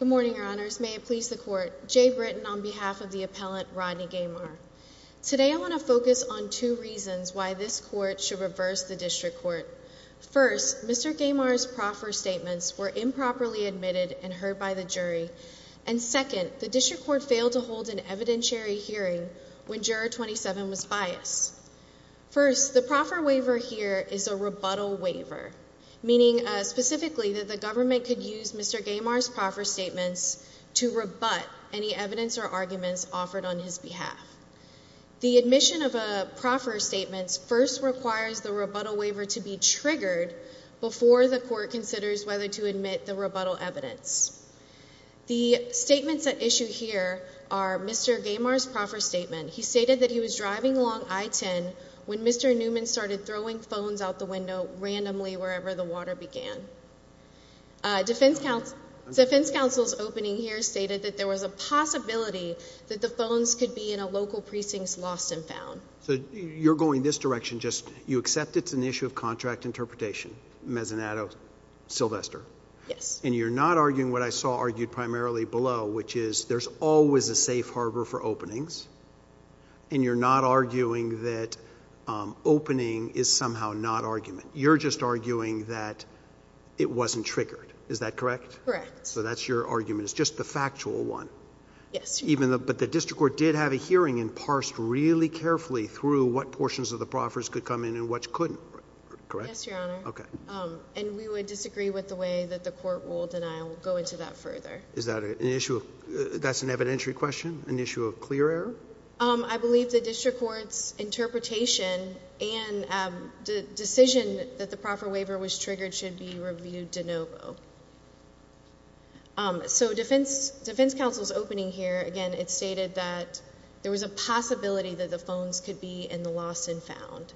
Good morning, your honors. May it please the court. Jay Britton on behalf of the appellant, Rodney Gemar. Today I want to focus on two reasons why this court should reverse the district court. First, Mr. Gemar's proffer statements were improperly admitted and heard by the jury, and second, the district court failed to hold an evidentiary hearing when juror 27 was biased. First, the proffer waiver here is a rebuttal waiver, meaning specifically that the proffer statements to rebut any evidence or arguments offered on his behalf. The admission of a proffer statements first requires the rebuttal waiver to be triggered before the court considers whether to admit the rebuttal evidence. The statements at issue here are Mr. Gemar's proffer statement. He stated that he was driving along I-10 when Mr. Newman started throwing phones out the window randomly wherever the water began. Defense counsel's opening here stated that there was a possibility that the phones could be in a local precinct lost and found. So you're going this direction, just you accept it's an issue of contract interpretation, Mezzanato, Sylvester? Yes. And you're not arguing what I saw argued primarily below, which is there's always a safe harbor for openings, and you're not arguing that opening is somehow not argument. You're just arguing that it wasn't triggered, is that correct? Correct. So that's your argument, it's just the factual one. Yes. Even though, but the district court did have a hearing and parsed really carefully through what portions of the proffers could come in and which couldn't, correct? Yes, Your Honor. Okay. And we would disagree with the way that the court ruled and I'll go into that further. Is that an issue, that's an evidentiary question, an issue of clear order? I believe the district court's interpretation and the decision that the proffer waiver was triggered should be reviewed de novo. So defense counsel's opening here, again, it stated that there was a possibility that the phones could be in the lost and found.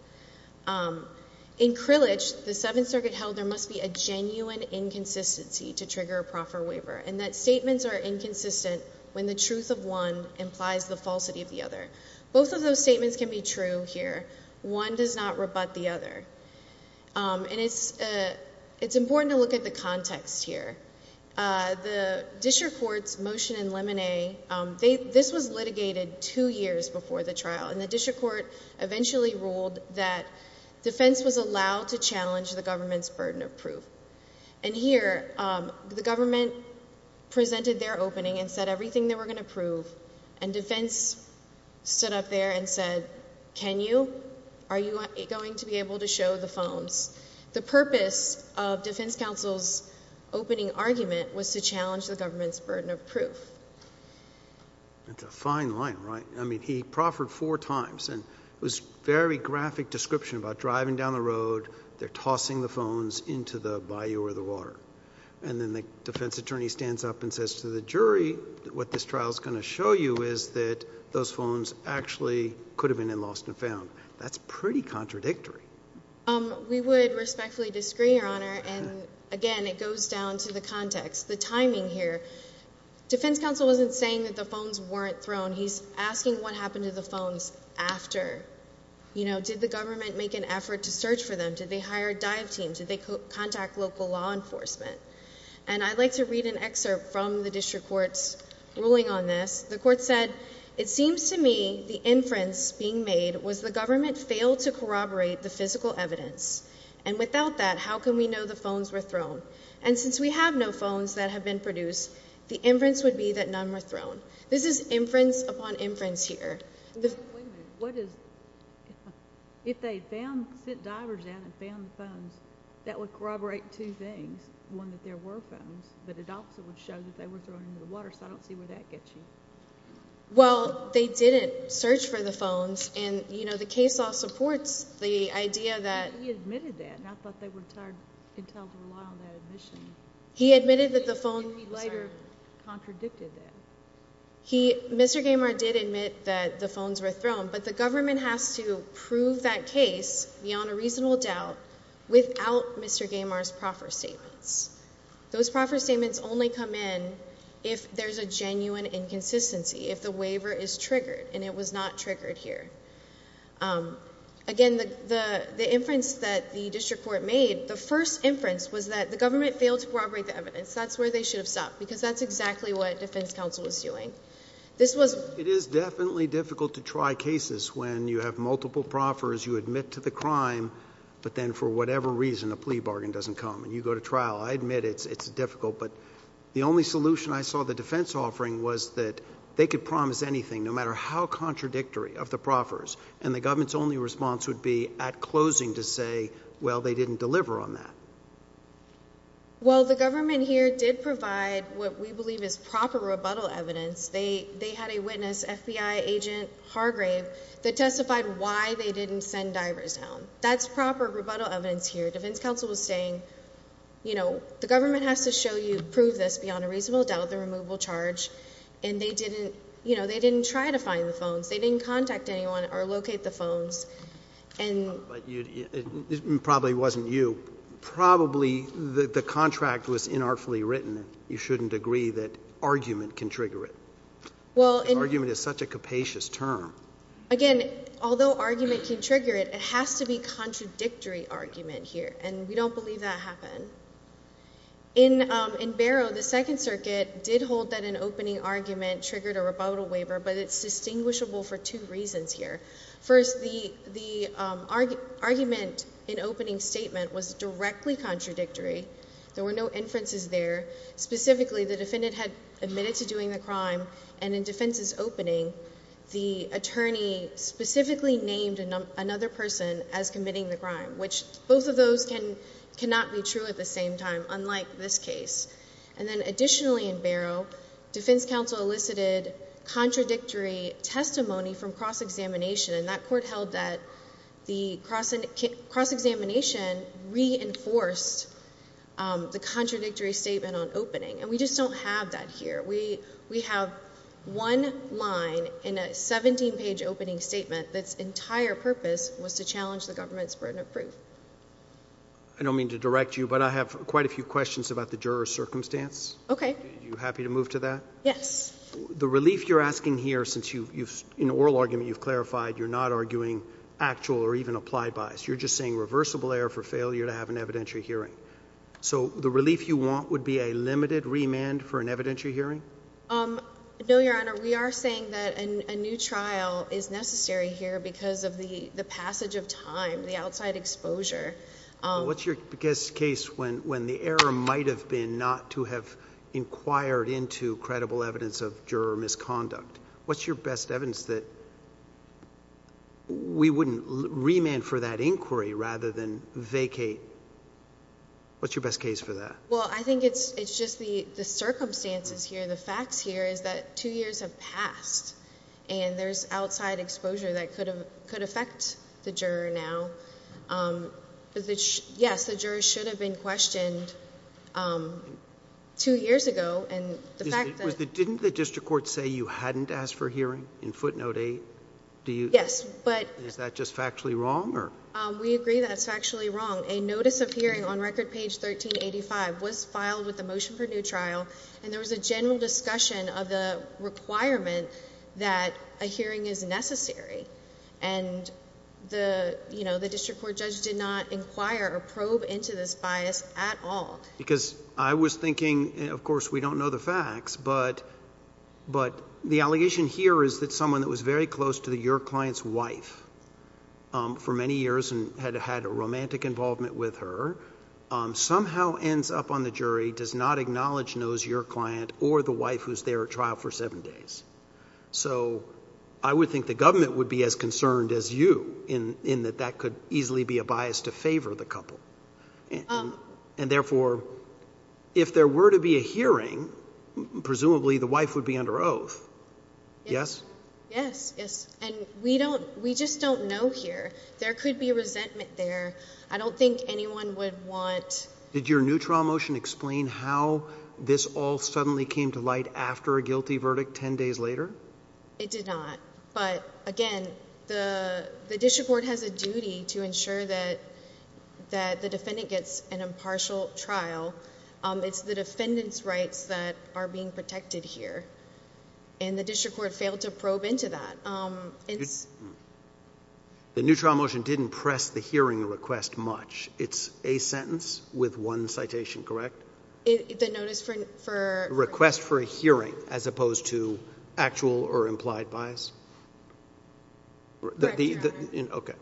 In Krillage, the Seventh Circuit held there must be a genuine inconsistency to trigger a proffer waiver and that statements are falsity of the other. Both of those statements can be true here. One does not rebut the other. And it's important to look at the context here. The district court's motion in Lemonet, this was litigated two years before the trial and the district court eventually ruled that defense was allowed to challenge the government's burden of proof. And here, the government presented their opening and said everything they were going to prove and defense stood up there and said, can you? Are you going to be able to show the phones? The purpose of defense counsel's opening argument was to challenge the government's burden of proof. That's a fine line, right? I mean, he proffered four times and it was very graphic description about driving down the road, they're tossing the phones into the bayou or the water. And then the defense attorney stands up and says to the jury, what this trial is going to show you is that those phones actually could have been lost and found. That's pretty contradictory. We would respectfully disagree, Your Honor. And again, it goes down to the context, the timing here. Defense counsel wasn't saying that the phones weren't thrown. He's asking what happened to the phones after. Did the government make an effort to search for them? Did they hire a dive team? Did they contact local law enforcement? And I'd like to read an excerpt from the district court's ruling on this. The court said, It seems to me the inference being made was the government failed to corroborate the physical evidence. And without that, how can we know the phones were thrown? And since we have no phones that have been produced, the inference would be that none were thrown. This is inference upon inference here. What is if they found sent divers down and found the phones that would corroborate two things. One, that there were phones, but it also would show that they were thrown into the water. So I don't see where that gets you. Well, they didn't search for the phones. And, you know, the case all supports the idea that he admitted that. And I thought they were tired until rely on that admission. He admitted that the phone later contradicted that he, Mr Gamer, did admit that the phones were thrown. But the government has to prove that case beyond a reasonable doubt without Mr Gamers proffer statements. Those proffer statements only come in if there's a genuine inconsistency if the waiver is triggered and it was not triggered here. Um, again, the inference that the district court made the first inference was that the government failed to corroborate the evidence. That's where they should have stopped, because that's exactly what defense counsel was doing. This was it is definitely difficult to try cases when you have multiple proffers, you admit to the crime, but then for whatever reason, a plea bargain doesn't come and you go to trial. I admit it's difficult, but the only solution I saw the defense offering was that they could promise anything no matter how contradictory of the proffers and the government's only response would be at closing to say, well, they didn't deliver on that. Well, the government here did provide what we believe is proper rebuttal evidence. They had a witness FBI agent Hargrave that testified why they didn't send divers down. That's proper rebuttal evidence here. Defense counsel was saying, you know, the government has to show you prove this beyond a reasonable doubt. The removal charge and they didn't, you know, they didn't try to find the phones. They didn't contact anyone or locate the phones and probably wasn't you. Probably the contract was in artfully written. You shouldn't agree that argument can trigger it. Well, argument is such a capacious term. Again, although argument can trigger it, it has to be contradictory argument here, and we don't believe that happened. In in Barrow, the Second Circuit did hold that an opening argument triggered a rebuttal waiver, but it's distinguishable for two reasons here. First, the argument in opening statement was directly contradictory. There were no inferences there. Specifically, the defendant had admitted to doing the crime and in defense is opening. The attorney specifically named another person as committing the crime, which both of those can cannot be true at the same time, unlike this case. And then additionally, in Barrow, Defense counsel elicited contradictory testimony from cross examination, and that court held that the cross cross examination reinforced the contradictory statement on opening. And we just don't have that here. We we have one line in a 17 page opening statement. That's entire purpose was to challenge the government's burden of proof. I don't mean to direct you, but I have quite a few questions about the juror's circumstance. Okay, you happy to move to that? Yes. The relief you're asking here, since you in oral argument, you've clarified you're not arguing actual or even applied bias. You're just saying reversible error for failure to have an evidentiary hearing. So the relief you want would be a limited remand for an evidentiary hearing. Um, no, Your Honor, we are saying that a new trial is necessary here because of the passage of time, the outside exposure. What's your biggest case when when the error might have been not to have inquired into credible evidence of juror misconduct? What's your best evidence that we wouldn't remand for that inquiry rather than vacate? What's your best case for that? Well, I think it's just the circumstances here. The facts here is that two years have passed and there's outside exposure that could have could affect the juror now. Um, yes, the juror should have been questioned, um, two years ago. And the fact that didn't the note a do you? Yes. But is that just factually wrong or we agree? That's factually wrong. A notice of hearing on record page 13 85 was filed with the motion for new trial, and there was a general discussion of the requirement that a hearing is necessary. And the, you know, the district court judge did not inquire or probe into this bias at all because I was thinking, of course, we don't know the facts, but but the allegation here is that someone that was very close to the your client's wife, um, for many years and had had a romantic involvement with her, um, somehow ends up on the jury does not acknowledge knows your client or the wife who's there at trial for seven days. So I would think the government would be as concerned as you in in that that could easily be a bias to favor the couple. And therefore, if there were to be a hearing, presumably the wife would be under oath. Yes. Yes. Yes. And we don't. We just don't know here. There could be resentment there. I don't think anyone would want. Did your new trial motion explain how this all suddenly came to light after a guilty verdict? 10 days later, it did not. But again, the district court has a duty to ensure that that the defendant gets an attendance rights that are being protected here. And the district court failed to probe into that. Um, it's the neutral motion didn't press the hearing request much. It's a sentence with one citation, correct? The notice for request for a hearing as opposed to actual or implied bias. The okay.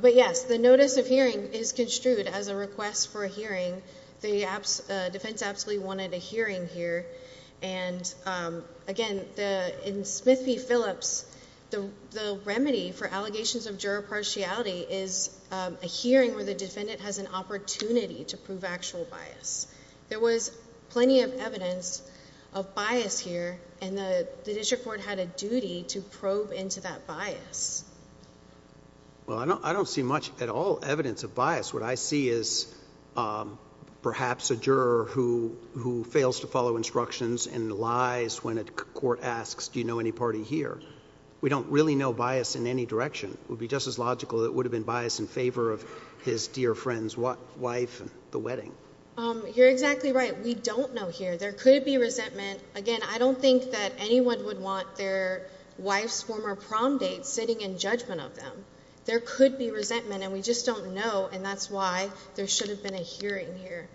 But yes, the notice of hearing is construed as a request for a hearing here. And again, in Smith P Phillips, the remedy for allegations of juror partiality is a hearing where the defendant has an opportunity to prove actual bias. There was plenty of evidence of bias here, and the district court had a duty to probe into that bias. Well, I don't see much at all evidence of bias. What I see is, um, perhaps a fails to follow instructions and lies. When a court asks, Do you know any party here? We don't really know bias in any direction would be just as logical. That would have been biased in favor of his dear friend's wife, the wedding. Um, you're exactly right. We don't know here. There could be resentment again. I don't think that anyone would want their wife's former prom date sitting in judgment of them. There could be resentment, and we just don't know. And that's why there should have been a hearing here.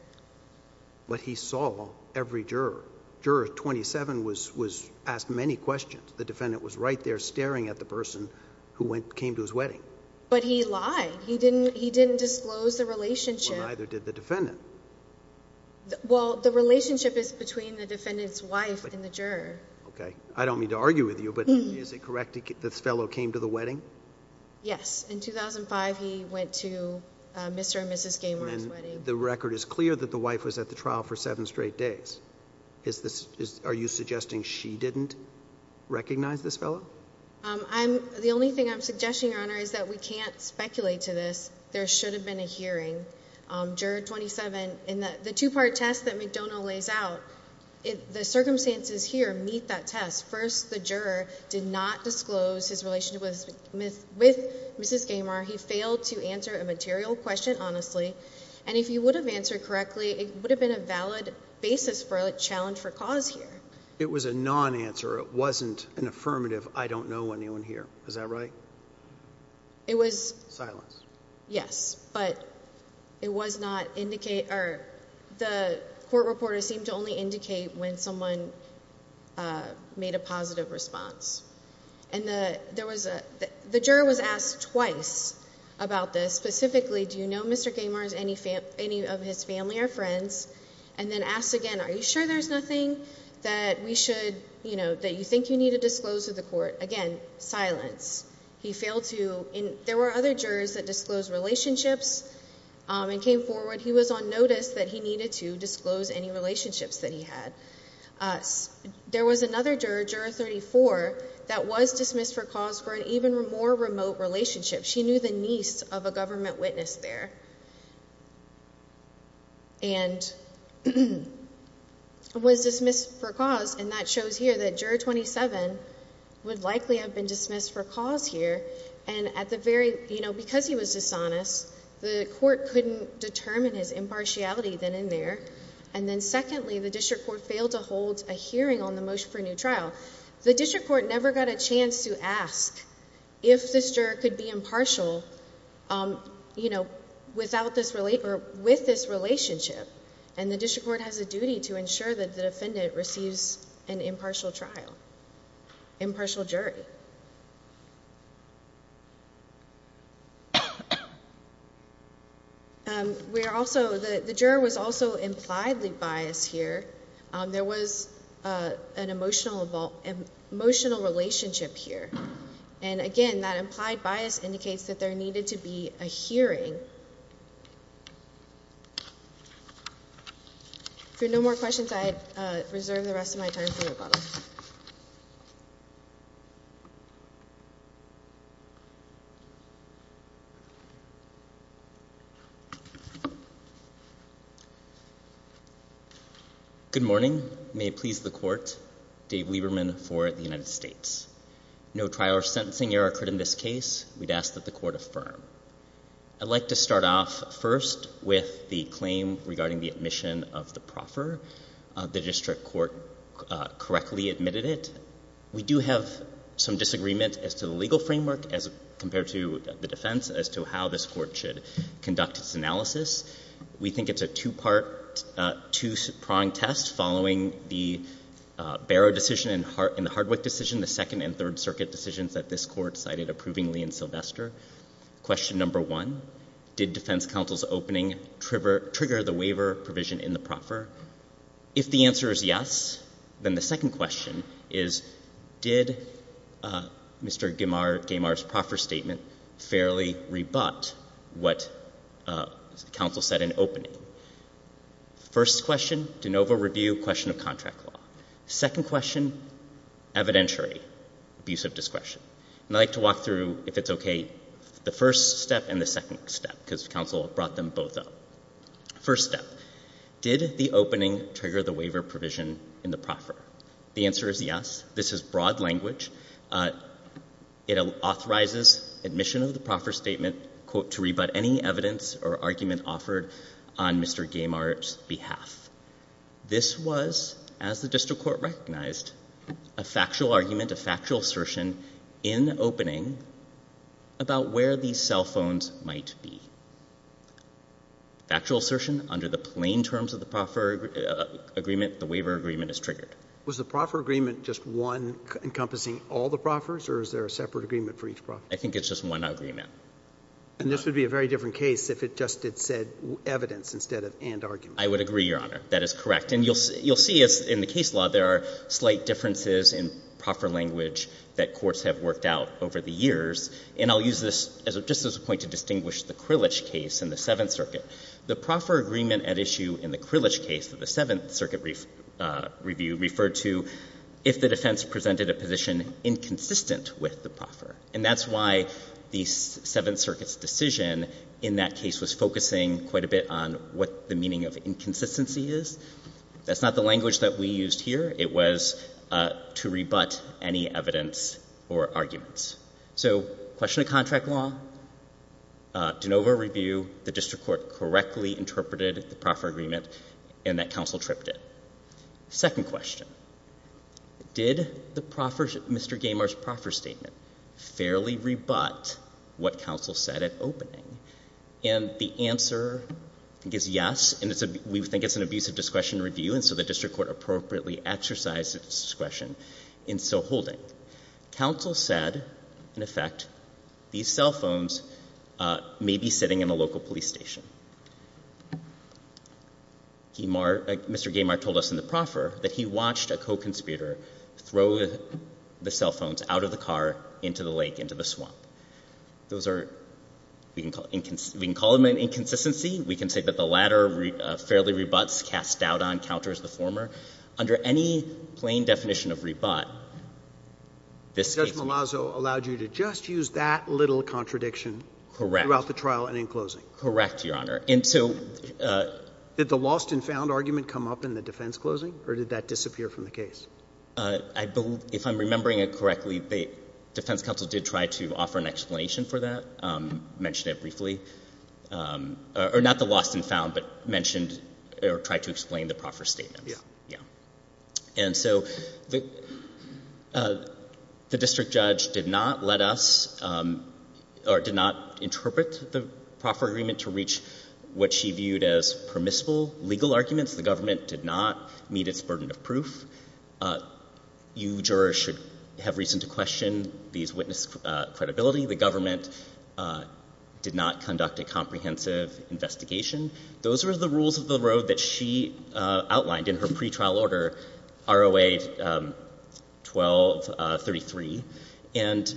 But he saw every juror. Juror 27 was asked many questions. The defendant was right there staring at the person who came to his wedding. But he lied. He didn't disclose the relationship. Well, neither did the defendant. Well, the relationship is between the defendant's wife and the juror. Okay. I don't mean to argue with you, but is it correct that this fellow came to the wedding? Yes. In 2005, he went to Mr and Mrs Gaymer's wedding. The record is clear that the wife was at the trial for seven straight days. Is this are you suggesting she didn't recognize this fellow? Um, I'm the only thing I'm suggesting, Your Honor, is that we can't speculate to this. There should have been a hearing. Um, juror 27 in the two part test that McDonough lays out the circumstances here meet that test. First, the juror did not disclose his relationship with with Mrs Gaymer. He failed to answer a material question honestly. And if you would have answered correctly, it would have been a valid basis for a challenge for cause here. It was a non answer. It wasn't an affirmative. I don't know anyone here. Is that right? It was silence. Yes, but it was not indicate or the court reporter seemed to only indicate when someone, uh, made a positive response. And the there was the juror was asked twice about this specifically. Do you know Mr Gaymer's any any of his family or friends and then asked again? Are you sure there's nothing that we should you know that you think you need to disclose to the court again? Silence. He failed to. There were other jurors that disclosed relationships and came forward. He was on notice that he needed to disclose any relationships that he had. Uh, there was another juror, juror 34 that was dismissed for cause for an even more remote relationship. She knew the niece of a government witness there and was dismissed for cause. And that shows here that juror 27 would likely have been dismissed for cause here. And at the very, you know, because he was dishonest, the court couldn't determine his impartiality than in there. And then, secondly, the district court failed to hold a hearing on the motion for a new trial. The district court never got a chance to ask if this juror could be impartial. Um, you know, without this relate or with this relationship, and the district court has a duty to ensure that the defendant receives an impartial trial, impartial jury. We're also the juror was also impliedly bias here. There was, uh, an emotional, emotional relationship here. And again, that implied bias indicates that there needed to be a hearing for no more questions. I reserve the rest of my time. Mhm. Good morning. May it please the court. Dave Lieberman for the United States. No trial or sentencing error occurred in this case. We'd ask that the court affirm. I'd like to start off first with the claim regarding the admission of the proffer. The district court correctly admitted it. We do have some disagreement as to the legal framework as compared to the defense as to how this court should conduct its analysis. We think it's a two part, two prong test following the Barrow decision and heart in the Hardwick decision, the second and third circuit decisions that this court cited approvingly in Sylvester. Question number one, did defense counsel's opening trigger the waiver provision in the proffer? If the answer is yes, then the second question is, did, uh, Mr. Gamar, Gamar's proffer statement fairly rebut what, uh, counsel said in opening first question to Nova review question of contract law. Second question, evidentiary abuse of discretion. And I'd like to walk through if it's okay, the first step and the second step, because counsel brought them both up. First step, did the opening trigger the waiver provision in the proffer? The answer is yes. This is broad language. Uh, it authorizes admission of the proffer statement quote to rebut any evidence or argument offered on Mr. Gamar's behalf. This was as the district court recognized a factual argument, a factual assertion in opening about where these cell phones might be. Factual assertion under the plain terms of the proffer agreement, the waiver agreement is triggered. Was the proffer agreement just one encompassing all the proffers or is there a separate agreement for each proffer? I think it's just one agreement. And this would be a very different case if it just did said evidence instead of and argument. I would agree, Your Honor. That is correct. And you'll see, you'll see us in the case law. There are slight differences in proper language that courts have worked out over the years. And I'll use this as a, just as a point to distinguish the Krillich case in the Seventh Circuit. The proffer agreement at issue in the Krillich case of the Seventh Circuit brief, uh, review referred to if the defense presented a position inconsistent with the proffer. And that's why the Seventh Circuit's decision in that case was focusing quite a bit on what the meaning of inconsistency is. That's not the language that we used here. It was, uh, to rebut any evidence or arguments. So question of contract law, uh, de novo review, the district court correctly interpreted the proffer agreement and that counsel tripped it. Second question, did the proffers, Mr. Gaymer's proffer statement fairly rebut what counsel said at opening? And the answer I think is yes. And it's a, we think it's an abusive discretion review. And so the district court appropriately exercised its discretion in so holding. Counsel said, in effect, these cell phones, uh, may be sitting in a local police station. Gaymer, uh, Mr. Gaymer told us in the proffer that he watched a co-conspirator throw the cell phones out of the car into the lake, into the swamp. Those are, we can call, we can call them an inconsistency. We can say that the latter, uh, fairly rebuts, cast doubt on the counter as the former. Under any plain definition of rebut, this case is. Judge Malazzo allowed you to just use that little contradiction. Correct. Throughout the trial and in closing. Correct, Your Honor. And so, uh. Did the lost and found argument come up in the defense closing or did that disappear from the case? Uh, I believe, if I'm remembering it correctly, the defense counsel did try to offer an explanation for that, um, mentioned it briefly. Um, or not the lost and found, but mentioned or tried to explain the proffer statement. Yeah. Yeah. And so the, uh, the district judge did not let us, um, or did not interpret the proffer agreement to reach what she viewed as permissible legal arguments. The government did not meet its burden of proof. Uh, you jurors should have reason to question these witness, uh, credibility. The government, uh, did not conduct a trial. Those are the rules of the road that she, uh, outlined in her pretrial order ROA, um, 12, uh, 33. And,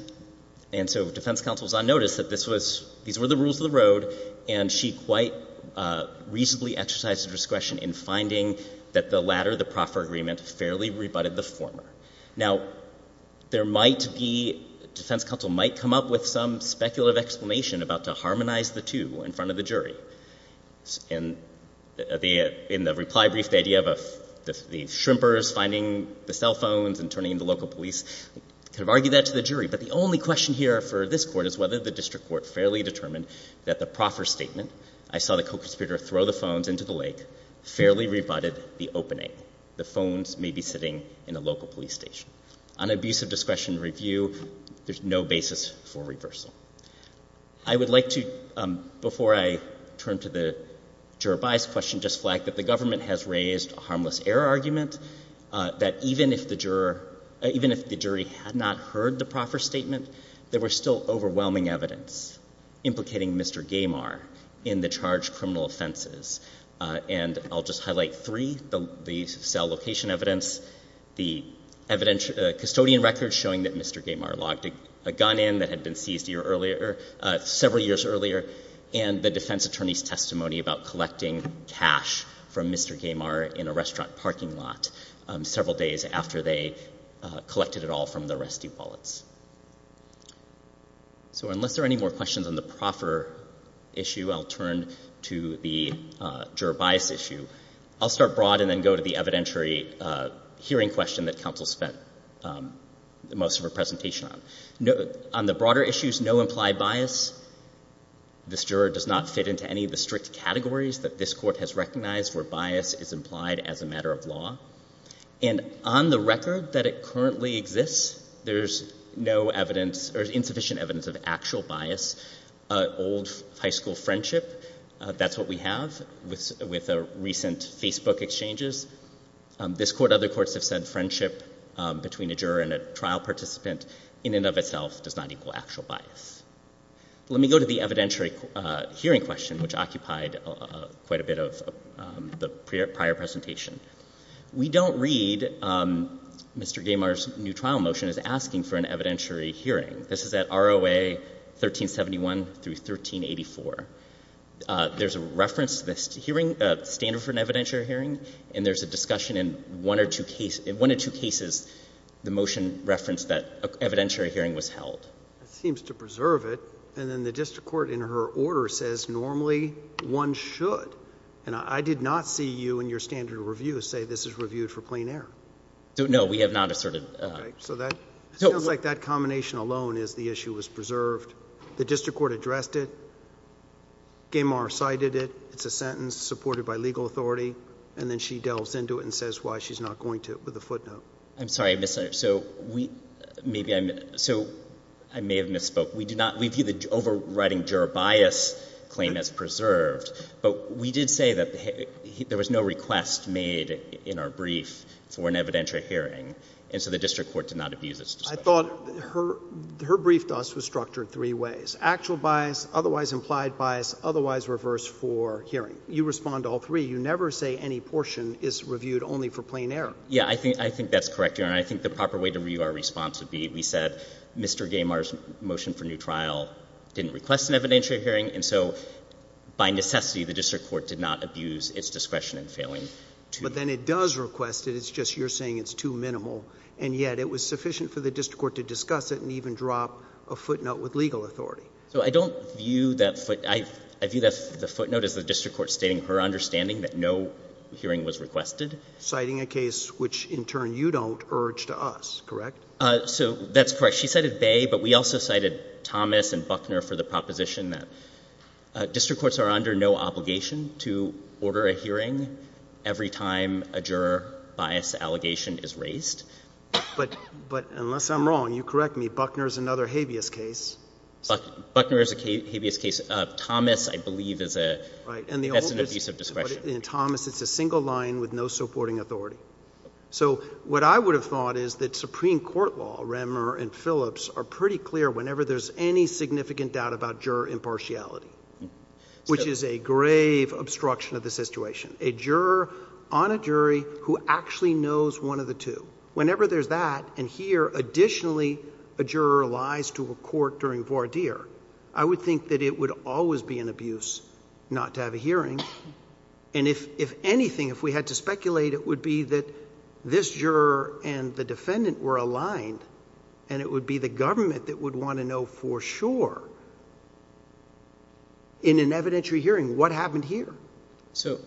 and so defense counsel's on notice that this was, these were the rules of the road and she quite, uh, reasonably exercised discretion in finding that the latter, the proffer agreement fairly rebutted the former. Now there might be, defense counsel might come up with some speculative explanation about to harmonize the two in front of the jury and the, uh, in the reply brief, the idea of, uh, the, the shrimpers finding the cell phones and turning the local police could have argued that to the jury. But the only question here for this court is whether the district court fairly determined that the proffer statement, I saw the co-conspirator throw the phones into the lake, fairly rebutted the opening, the phones may be sitting in a local police station on abusive discretion review. There's no basis for reversal. I would like to, um, before I turn to the juror bias question, just flag that the government has raised a harmless error argument, uh, that even if the juror, even if the jury had not heard the proffer statement, there were still overwhelming evidence implicating Mr. Gaymar in the charge criminal offenses. Uh, and I'll just highlight three, the, the cell location evidence, the evidence, uh, custodian records showing that Mr. Gaymar logged a gun in that had been seized a year earlier, uh, several years earlier, and the defense attorney's testimony about collecting cash from Mr. Gaymar in a restaurant parking lot, um, several days after they, uh, collected it all from the rescue wallets. So unless there are any more questions on the proffer issue, I'll turn to the, uh, juror bias issue. I'll start broad and then go to the evidentiary, uh, hearing question that counsel spent, um, the most of her presentation on, on the broader issues, no implied bias. This juror does not fit into any of the strict categories that this court has recognized where bias is implied as a matter of law and on the record that it currently exists, there's no evidence or insufficient evidence of actual bias, uh, old high school friendship. Uh, that's what we have with, with a recent Facebook exchanges. Um, this court, other courts have said friendship, um, in and of itself does not equal actual bias. Let me go to the evidentiary, uh, hearing question, which occupied, uh, quite a bit of, um, the prior, prior presentation. We don't read, um, Mr. Gaymar's new trial motion is asking for an evidentiary hearing. This is at ROA 1371 through 1384. Uh, there's a reference to this hearing, uh, standard for an evidentiary hearing, and there's a discussion in one or two cases, one or two cases, the motion referenced that evidentiary hearing was held. It seems to preserve it. And then the district court in her order says normally one should, and I did not see you in your standard review say this is reviewed for plain air. So no, we have not asserted. So that sounds like that combination alone is the issue was preserved. The district court addressed it. Gaymar cited it. It's a sentence supported by legal authority. And then she delves into it and says why she's not going to it with a footnote. I'm sorry, Mr. So we, maybe I'm so I may have misspoke. We do not, we view the overriding juror bias claim as preserved, but we did say that there was no request made in our brief for an evidentiary hearing. And so the district court did not abuse this. I thought her, her brief to us was structured three ways, actual bias, otherwise implied bias, otherwise reverse for hearing. You respond to all three. You never say any portion is reviewed only for plain air. Yeah, I think, I think that's correct here. And I think the proper way to review our response would be, we said Mr. Gaymar's motion for new trial didn't request an evidentiary hearing. And so by necessity, the district court did not abuse its discretion in failing. But then it does request it. It's just, you're saying it's too minimal. And yet it was sufficient for the district court to discuss it and even drop a foot note with legal authority. So I don't view that foot. I view the footnote as the district court stating her understanding that no hearing was requested. Citing a case which in turn you don't urge to us, correct? So that's correct. She cited Bay, but we also cited Thomas and Buckner for the proposition that district courts are under no obligation to order a hearing every time a juror bias allegation is raised. But, but unless I'm wrong, you correct me, Buckner's another habeas case. Buckner is a habeas case. Uh, Thomas, I believe is a, that's an abuse of discretion. In Thomas, it's a single line with no supporting authority. So what I would have thought is that Supreme court law, Remmer and Phillips are pretty clear whenever there's any significant doubt about juror impartiality, which is a grave obstruction of the situation. A juror on a jury who actually knows one of the two, whenever there's that. And here, additionally, a juror lies to a court during voir dire. I would think that it would always be an abuse not to have a hearing. And if, if anything, if we had to speculate, it would be that this juror and the defendant were aligned and it would be the government that would want to know for sure in an evidentiary hearing what happened here. So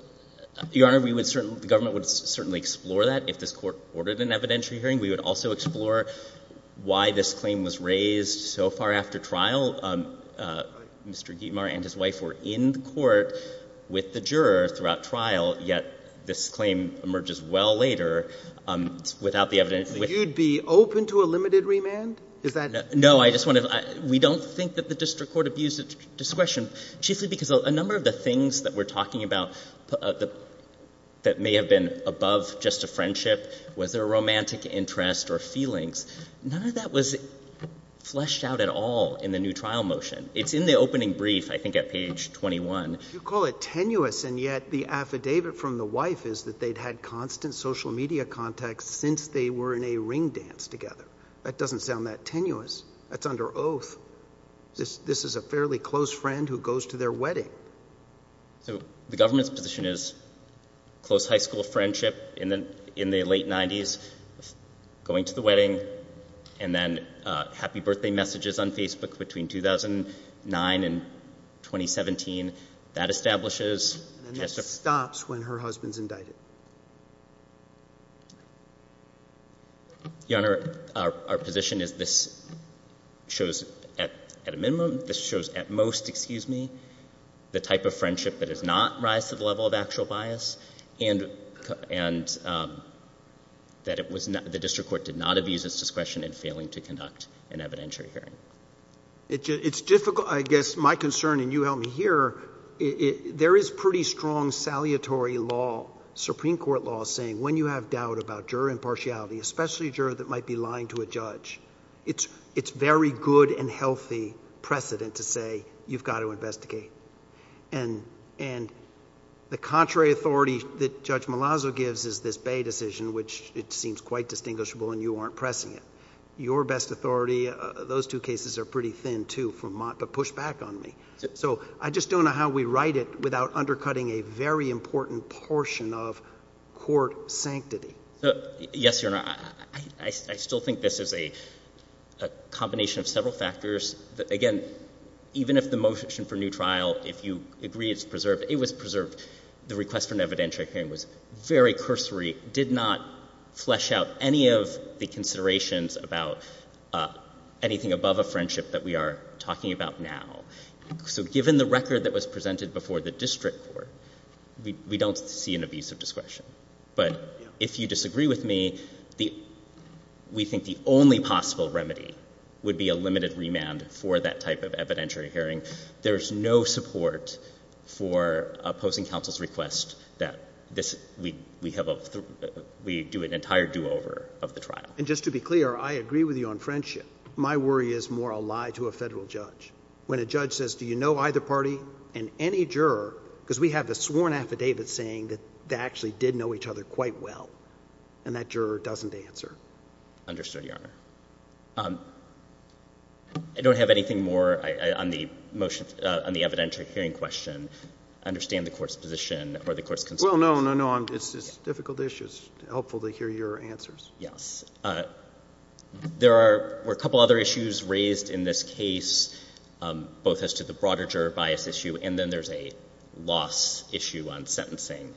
your honor, we would certainly, the government would certainly explore that if this court ordered an evidentiary hearing, we would also explore why this claim was raised so far after trial. Um, uh, Mr. Gitmar and his wife were in the court with the juror throughout trial, yet this claim emerges well later, um, without the evidence. You'd be open to a limited remand? Is that? No, I just want to, we don't think that the district court abused discretion chiefly because a number of the things that we're talking about that may have been above just a friendship, was there a romantic interest or feelings? None of that was fleshed out at all in the new trial motion. It's in the opening brief, I think at page 21. You call it tenuous. And yet the affidavit from the wife is that they'd had constant social media contacts since they were in a ring dance together. That doesn't sound that tenuous. That's under oath. This, this is a fairly close friend who goes to their wedding. So the government's position is close high school friendship in the, in the late nineties going to the wedding and then a happy birthday messages on Facebook between 2009 and 2017 that establishes. And that stops when her husband's indicted. Your Honor, our position is this shows at a minimum, this shows at most, excuse me, the type of friendship that is not rise to the level of actual bias and, and that it was not, the district court did not abuse its discretion in failing to conduct an evidentiary hearing. It's difficult. I guess my concern and you help me here, it there is pretty strong salutary law, Supreme Court law saying when you have doubt about juror impartiality, especially a juror that might be lying to a judge, it's, it's very good and healthy precedent to say you've got to investigate. And, and the contrary authority that judge Malazzo gives is this Bay decision, which it seems quite distinguishable and you aren't pressing it. Your best authority. Those two cases are pretty thin too from Mott, but push back on me. So I just don't know how we write it without undercutting a very important portion of court sanctity. Yes, Your Honor. I, I, I still think this is a, a combination of several factors that again, even if the motion for new trial, if you agree it's preserved, it was preserved. The request for an evidentiary hearing was very cursory, did not flesh out any of the considerations about anything above a friendship that we are talking about now. So given the record that was presented before the district court, we don't see an abuse of discretion. But if you disagree with me, the, we think the only possible remedy would be a limited remand for that type of evidentiary hearing. There's no support for opposing counsel's request that this, we, we have a, we do an entire do over of the trial. And just to be clear, I agree with you on friendship. My worry is more a lie to a federal judge. When a judge says, do you know either party and any juror? Cause we have the sworn affidavit saying that they actually did know each other quite well. And that juror doesn't answer. Understood. Your Honor. I don't have anything more on the motion, on the evidentiary hearing question. I understand the court's position or the court's concerns. Well, no, no, no. It's difficult issues. Helpful to hear your answers. Yes. There are, were a couple other issues raised in this case both as to the broader juror bias issue. And then there's a loss issue on sentencing.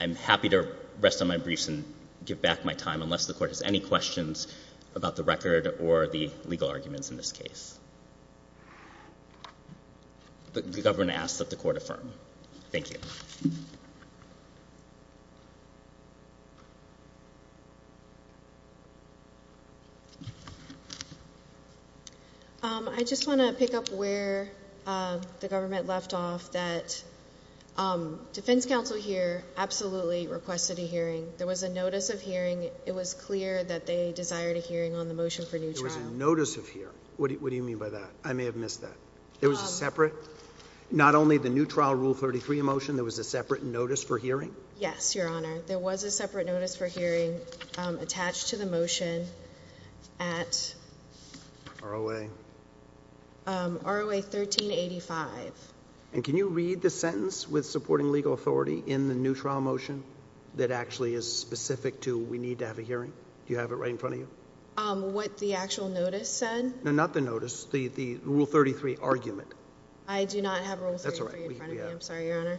I'm happy to rest on my briefs and give back my time unless the court has any questions about the record or the legal arguments in this case. The government asks that the court affirm. Thank you. I just want to pick up where the government left off that defense counsel here absolutely requested a hearing. There was a notice of hearing. It was clear that they desired a hearing on the motion for new trial notice of here. What do you mean by that? I may have missed that. There was a separate, not only the new trial rule 33 emotion. There was a separate notice for hearing. Yes, your Honor. There was a separate notice for hearing attached to the motion at our way. Um, our way 1385. And can you read the sentence with supporting legal authority in the new trial motion that actually is specific to, we need to have a hearing. Do you have it right in front of you? Um, what the actual notice said? No, not the notice. The, the rule 33 argument. I do not have rules. That's all right. I'm sorry, your Honor.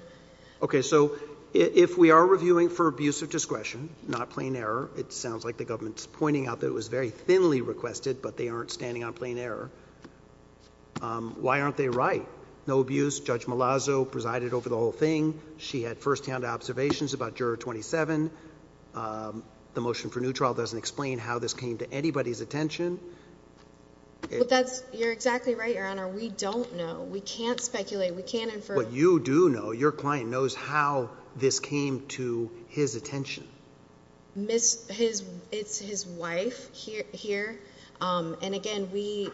Okay. So if we are reviewing for abuse of discretion, not plain error, it sounds like the government's pointing out that it was very thinly requested, but they aren't standing on plain error. Um, why aren't they right? No abuse. Judge Malazzo presided over the whole thing. She had firsthand observations about juror 27. Um, the motion for new trial doesn't explain how this came to anybody's attention. But that's, you're exactly right, your Honor. We don't know. We can't speculate. We can't infer what you do know. Your client knows how this came to his attention. Miss his, it's his wife here. Here. Um, and again, we,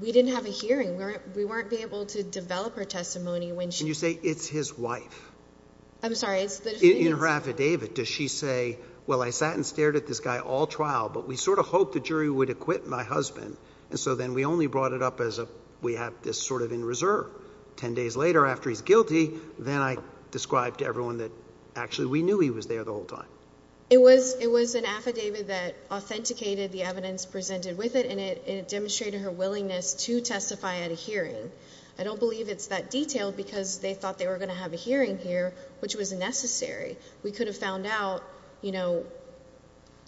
we didn't have a hearing where we weren't able to develop her testimony when she, you say it's his wife. I'm sorry. It's in her affidavit. Does she say, well, I sat and stared at this guy all trial, but we sort of hope the jury would acquit my husband. And so then we only brought it up as a, we have this sort of in reserve 10 days later after he's guilty. Then I described to everyone that actually we knew he was there the whole time. It was, it was an affidavit that authenticated. The evidence presented with it and it demonstrated her willingness to testify at a hearing. I don't believe it's that detailed because they thought they were going to have a hearing here, which was necessary. We could have found out, you know,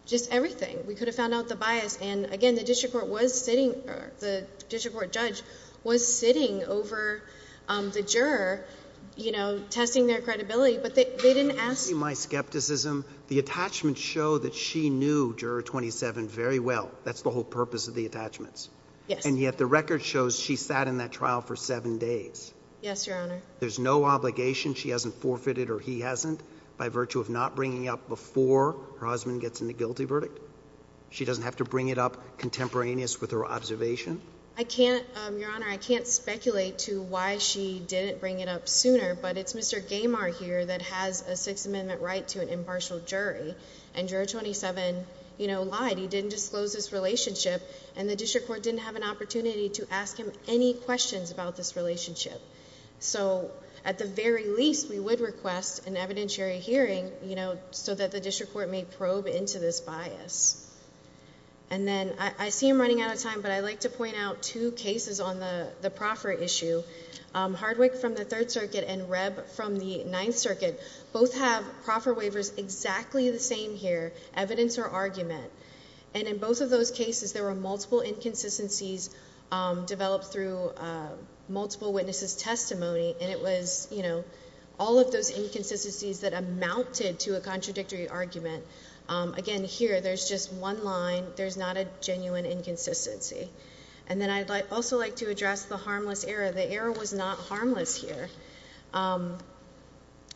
just everything. We could have found out the bias. And again, the district court was sitting, the district court judge was sitting over, um, the juror, you know, testing their credibility, but they, they didn't ask. My skepticism, the attachments show that she knew juror 27 very well. That's the whole purpose of the attachments. And yet the record shows she sat in that trial for seven days. Yes, Your Honor. There's no obligation. She hasn't forfeited or he hasn't by virtue of not bringing up before her husband gets in the guilty verdict. She doesn't have to bring it up contemporaneous with her observation. I can't, um, Your Honor, I can't speculate to why she didn't bring it up sooner, but it's Mr. Gamar here that has a six amendment right to an impartial jury and juror 27, you know, lied. He didn't disclose his relationship and the district court didn't have an opportunity to ask him any questions about this relationship. So at the very least we would request an evidentiary hearing, you know, so that the district court may probe into this bias. And then I see him running out of time, but I like to point out two cases on the proffer issue. Um, Chadwick from the third circuit and Reb from the ninth circuit, both have proffer waivers, exactly the same here, evidence or argument. And in both of those cases, there were multiple inconsistencies, um, developed through, uh, multiple witnesses testimony. And it was, you know, all of those inconsistencies that amounted to a contradictory argument. Um, again, here, there's just one line. There's not a genuine inconsistency. And then I'd also like to address the harmless error. The error was not harmless here. Um,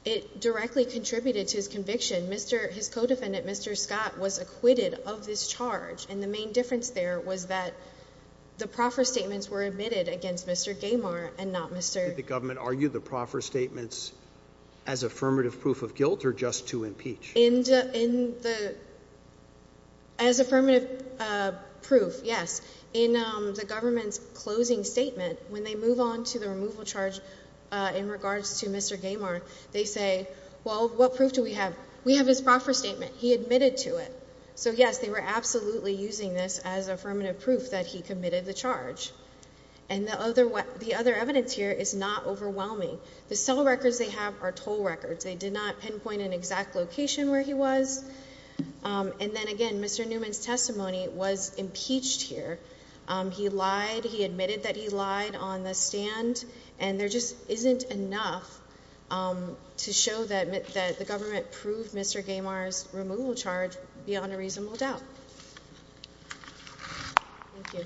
it directly contributed to his conviction. Mr. His co-defendant, Mr. Scott was acquitted of this charge. And the main difference there was that the proffer statements were admitted against Mr. Gamar and not Mr. The government argued the proffer statements as affirmative proof of guilt or just to impeach. In the, in the, as affirmative, uh, proof. Yes. In, um, the government's closing statement, when they move on to the removal charge, uh, in regards to Mr. Gamar, they say, well, what proof do we have? We have his proffer statement. He admitted to it. So yes, they were absolutely using this as affirmative proof that he committed the charge. And the other, the other evidence here is not overwhelming. The cell records they have are toll records. They did not pinpoint an exact location where he was. Um, and then again, Mr. Newman's testimony was impeached here. Um, he lied. He admitted that he lied on the stand and there just isn't enough, um, to show that the government proved Mr. Gamar's removal charge beyond a reasonable doubt. Thank you.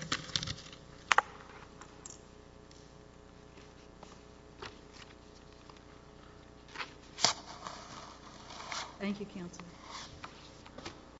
Thank you. Council.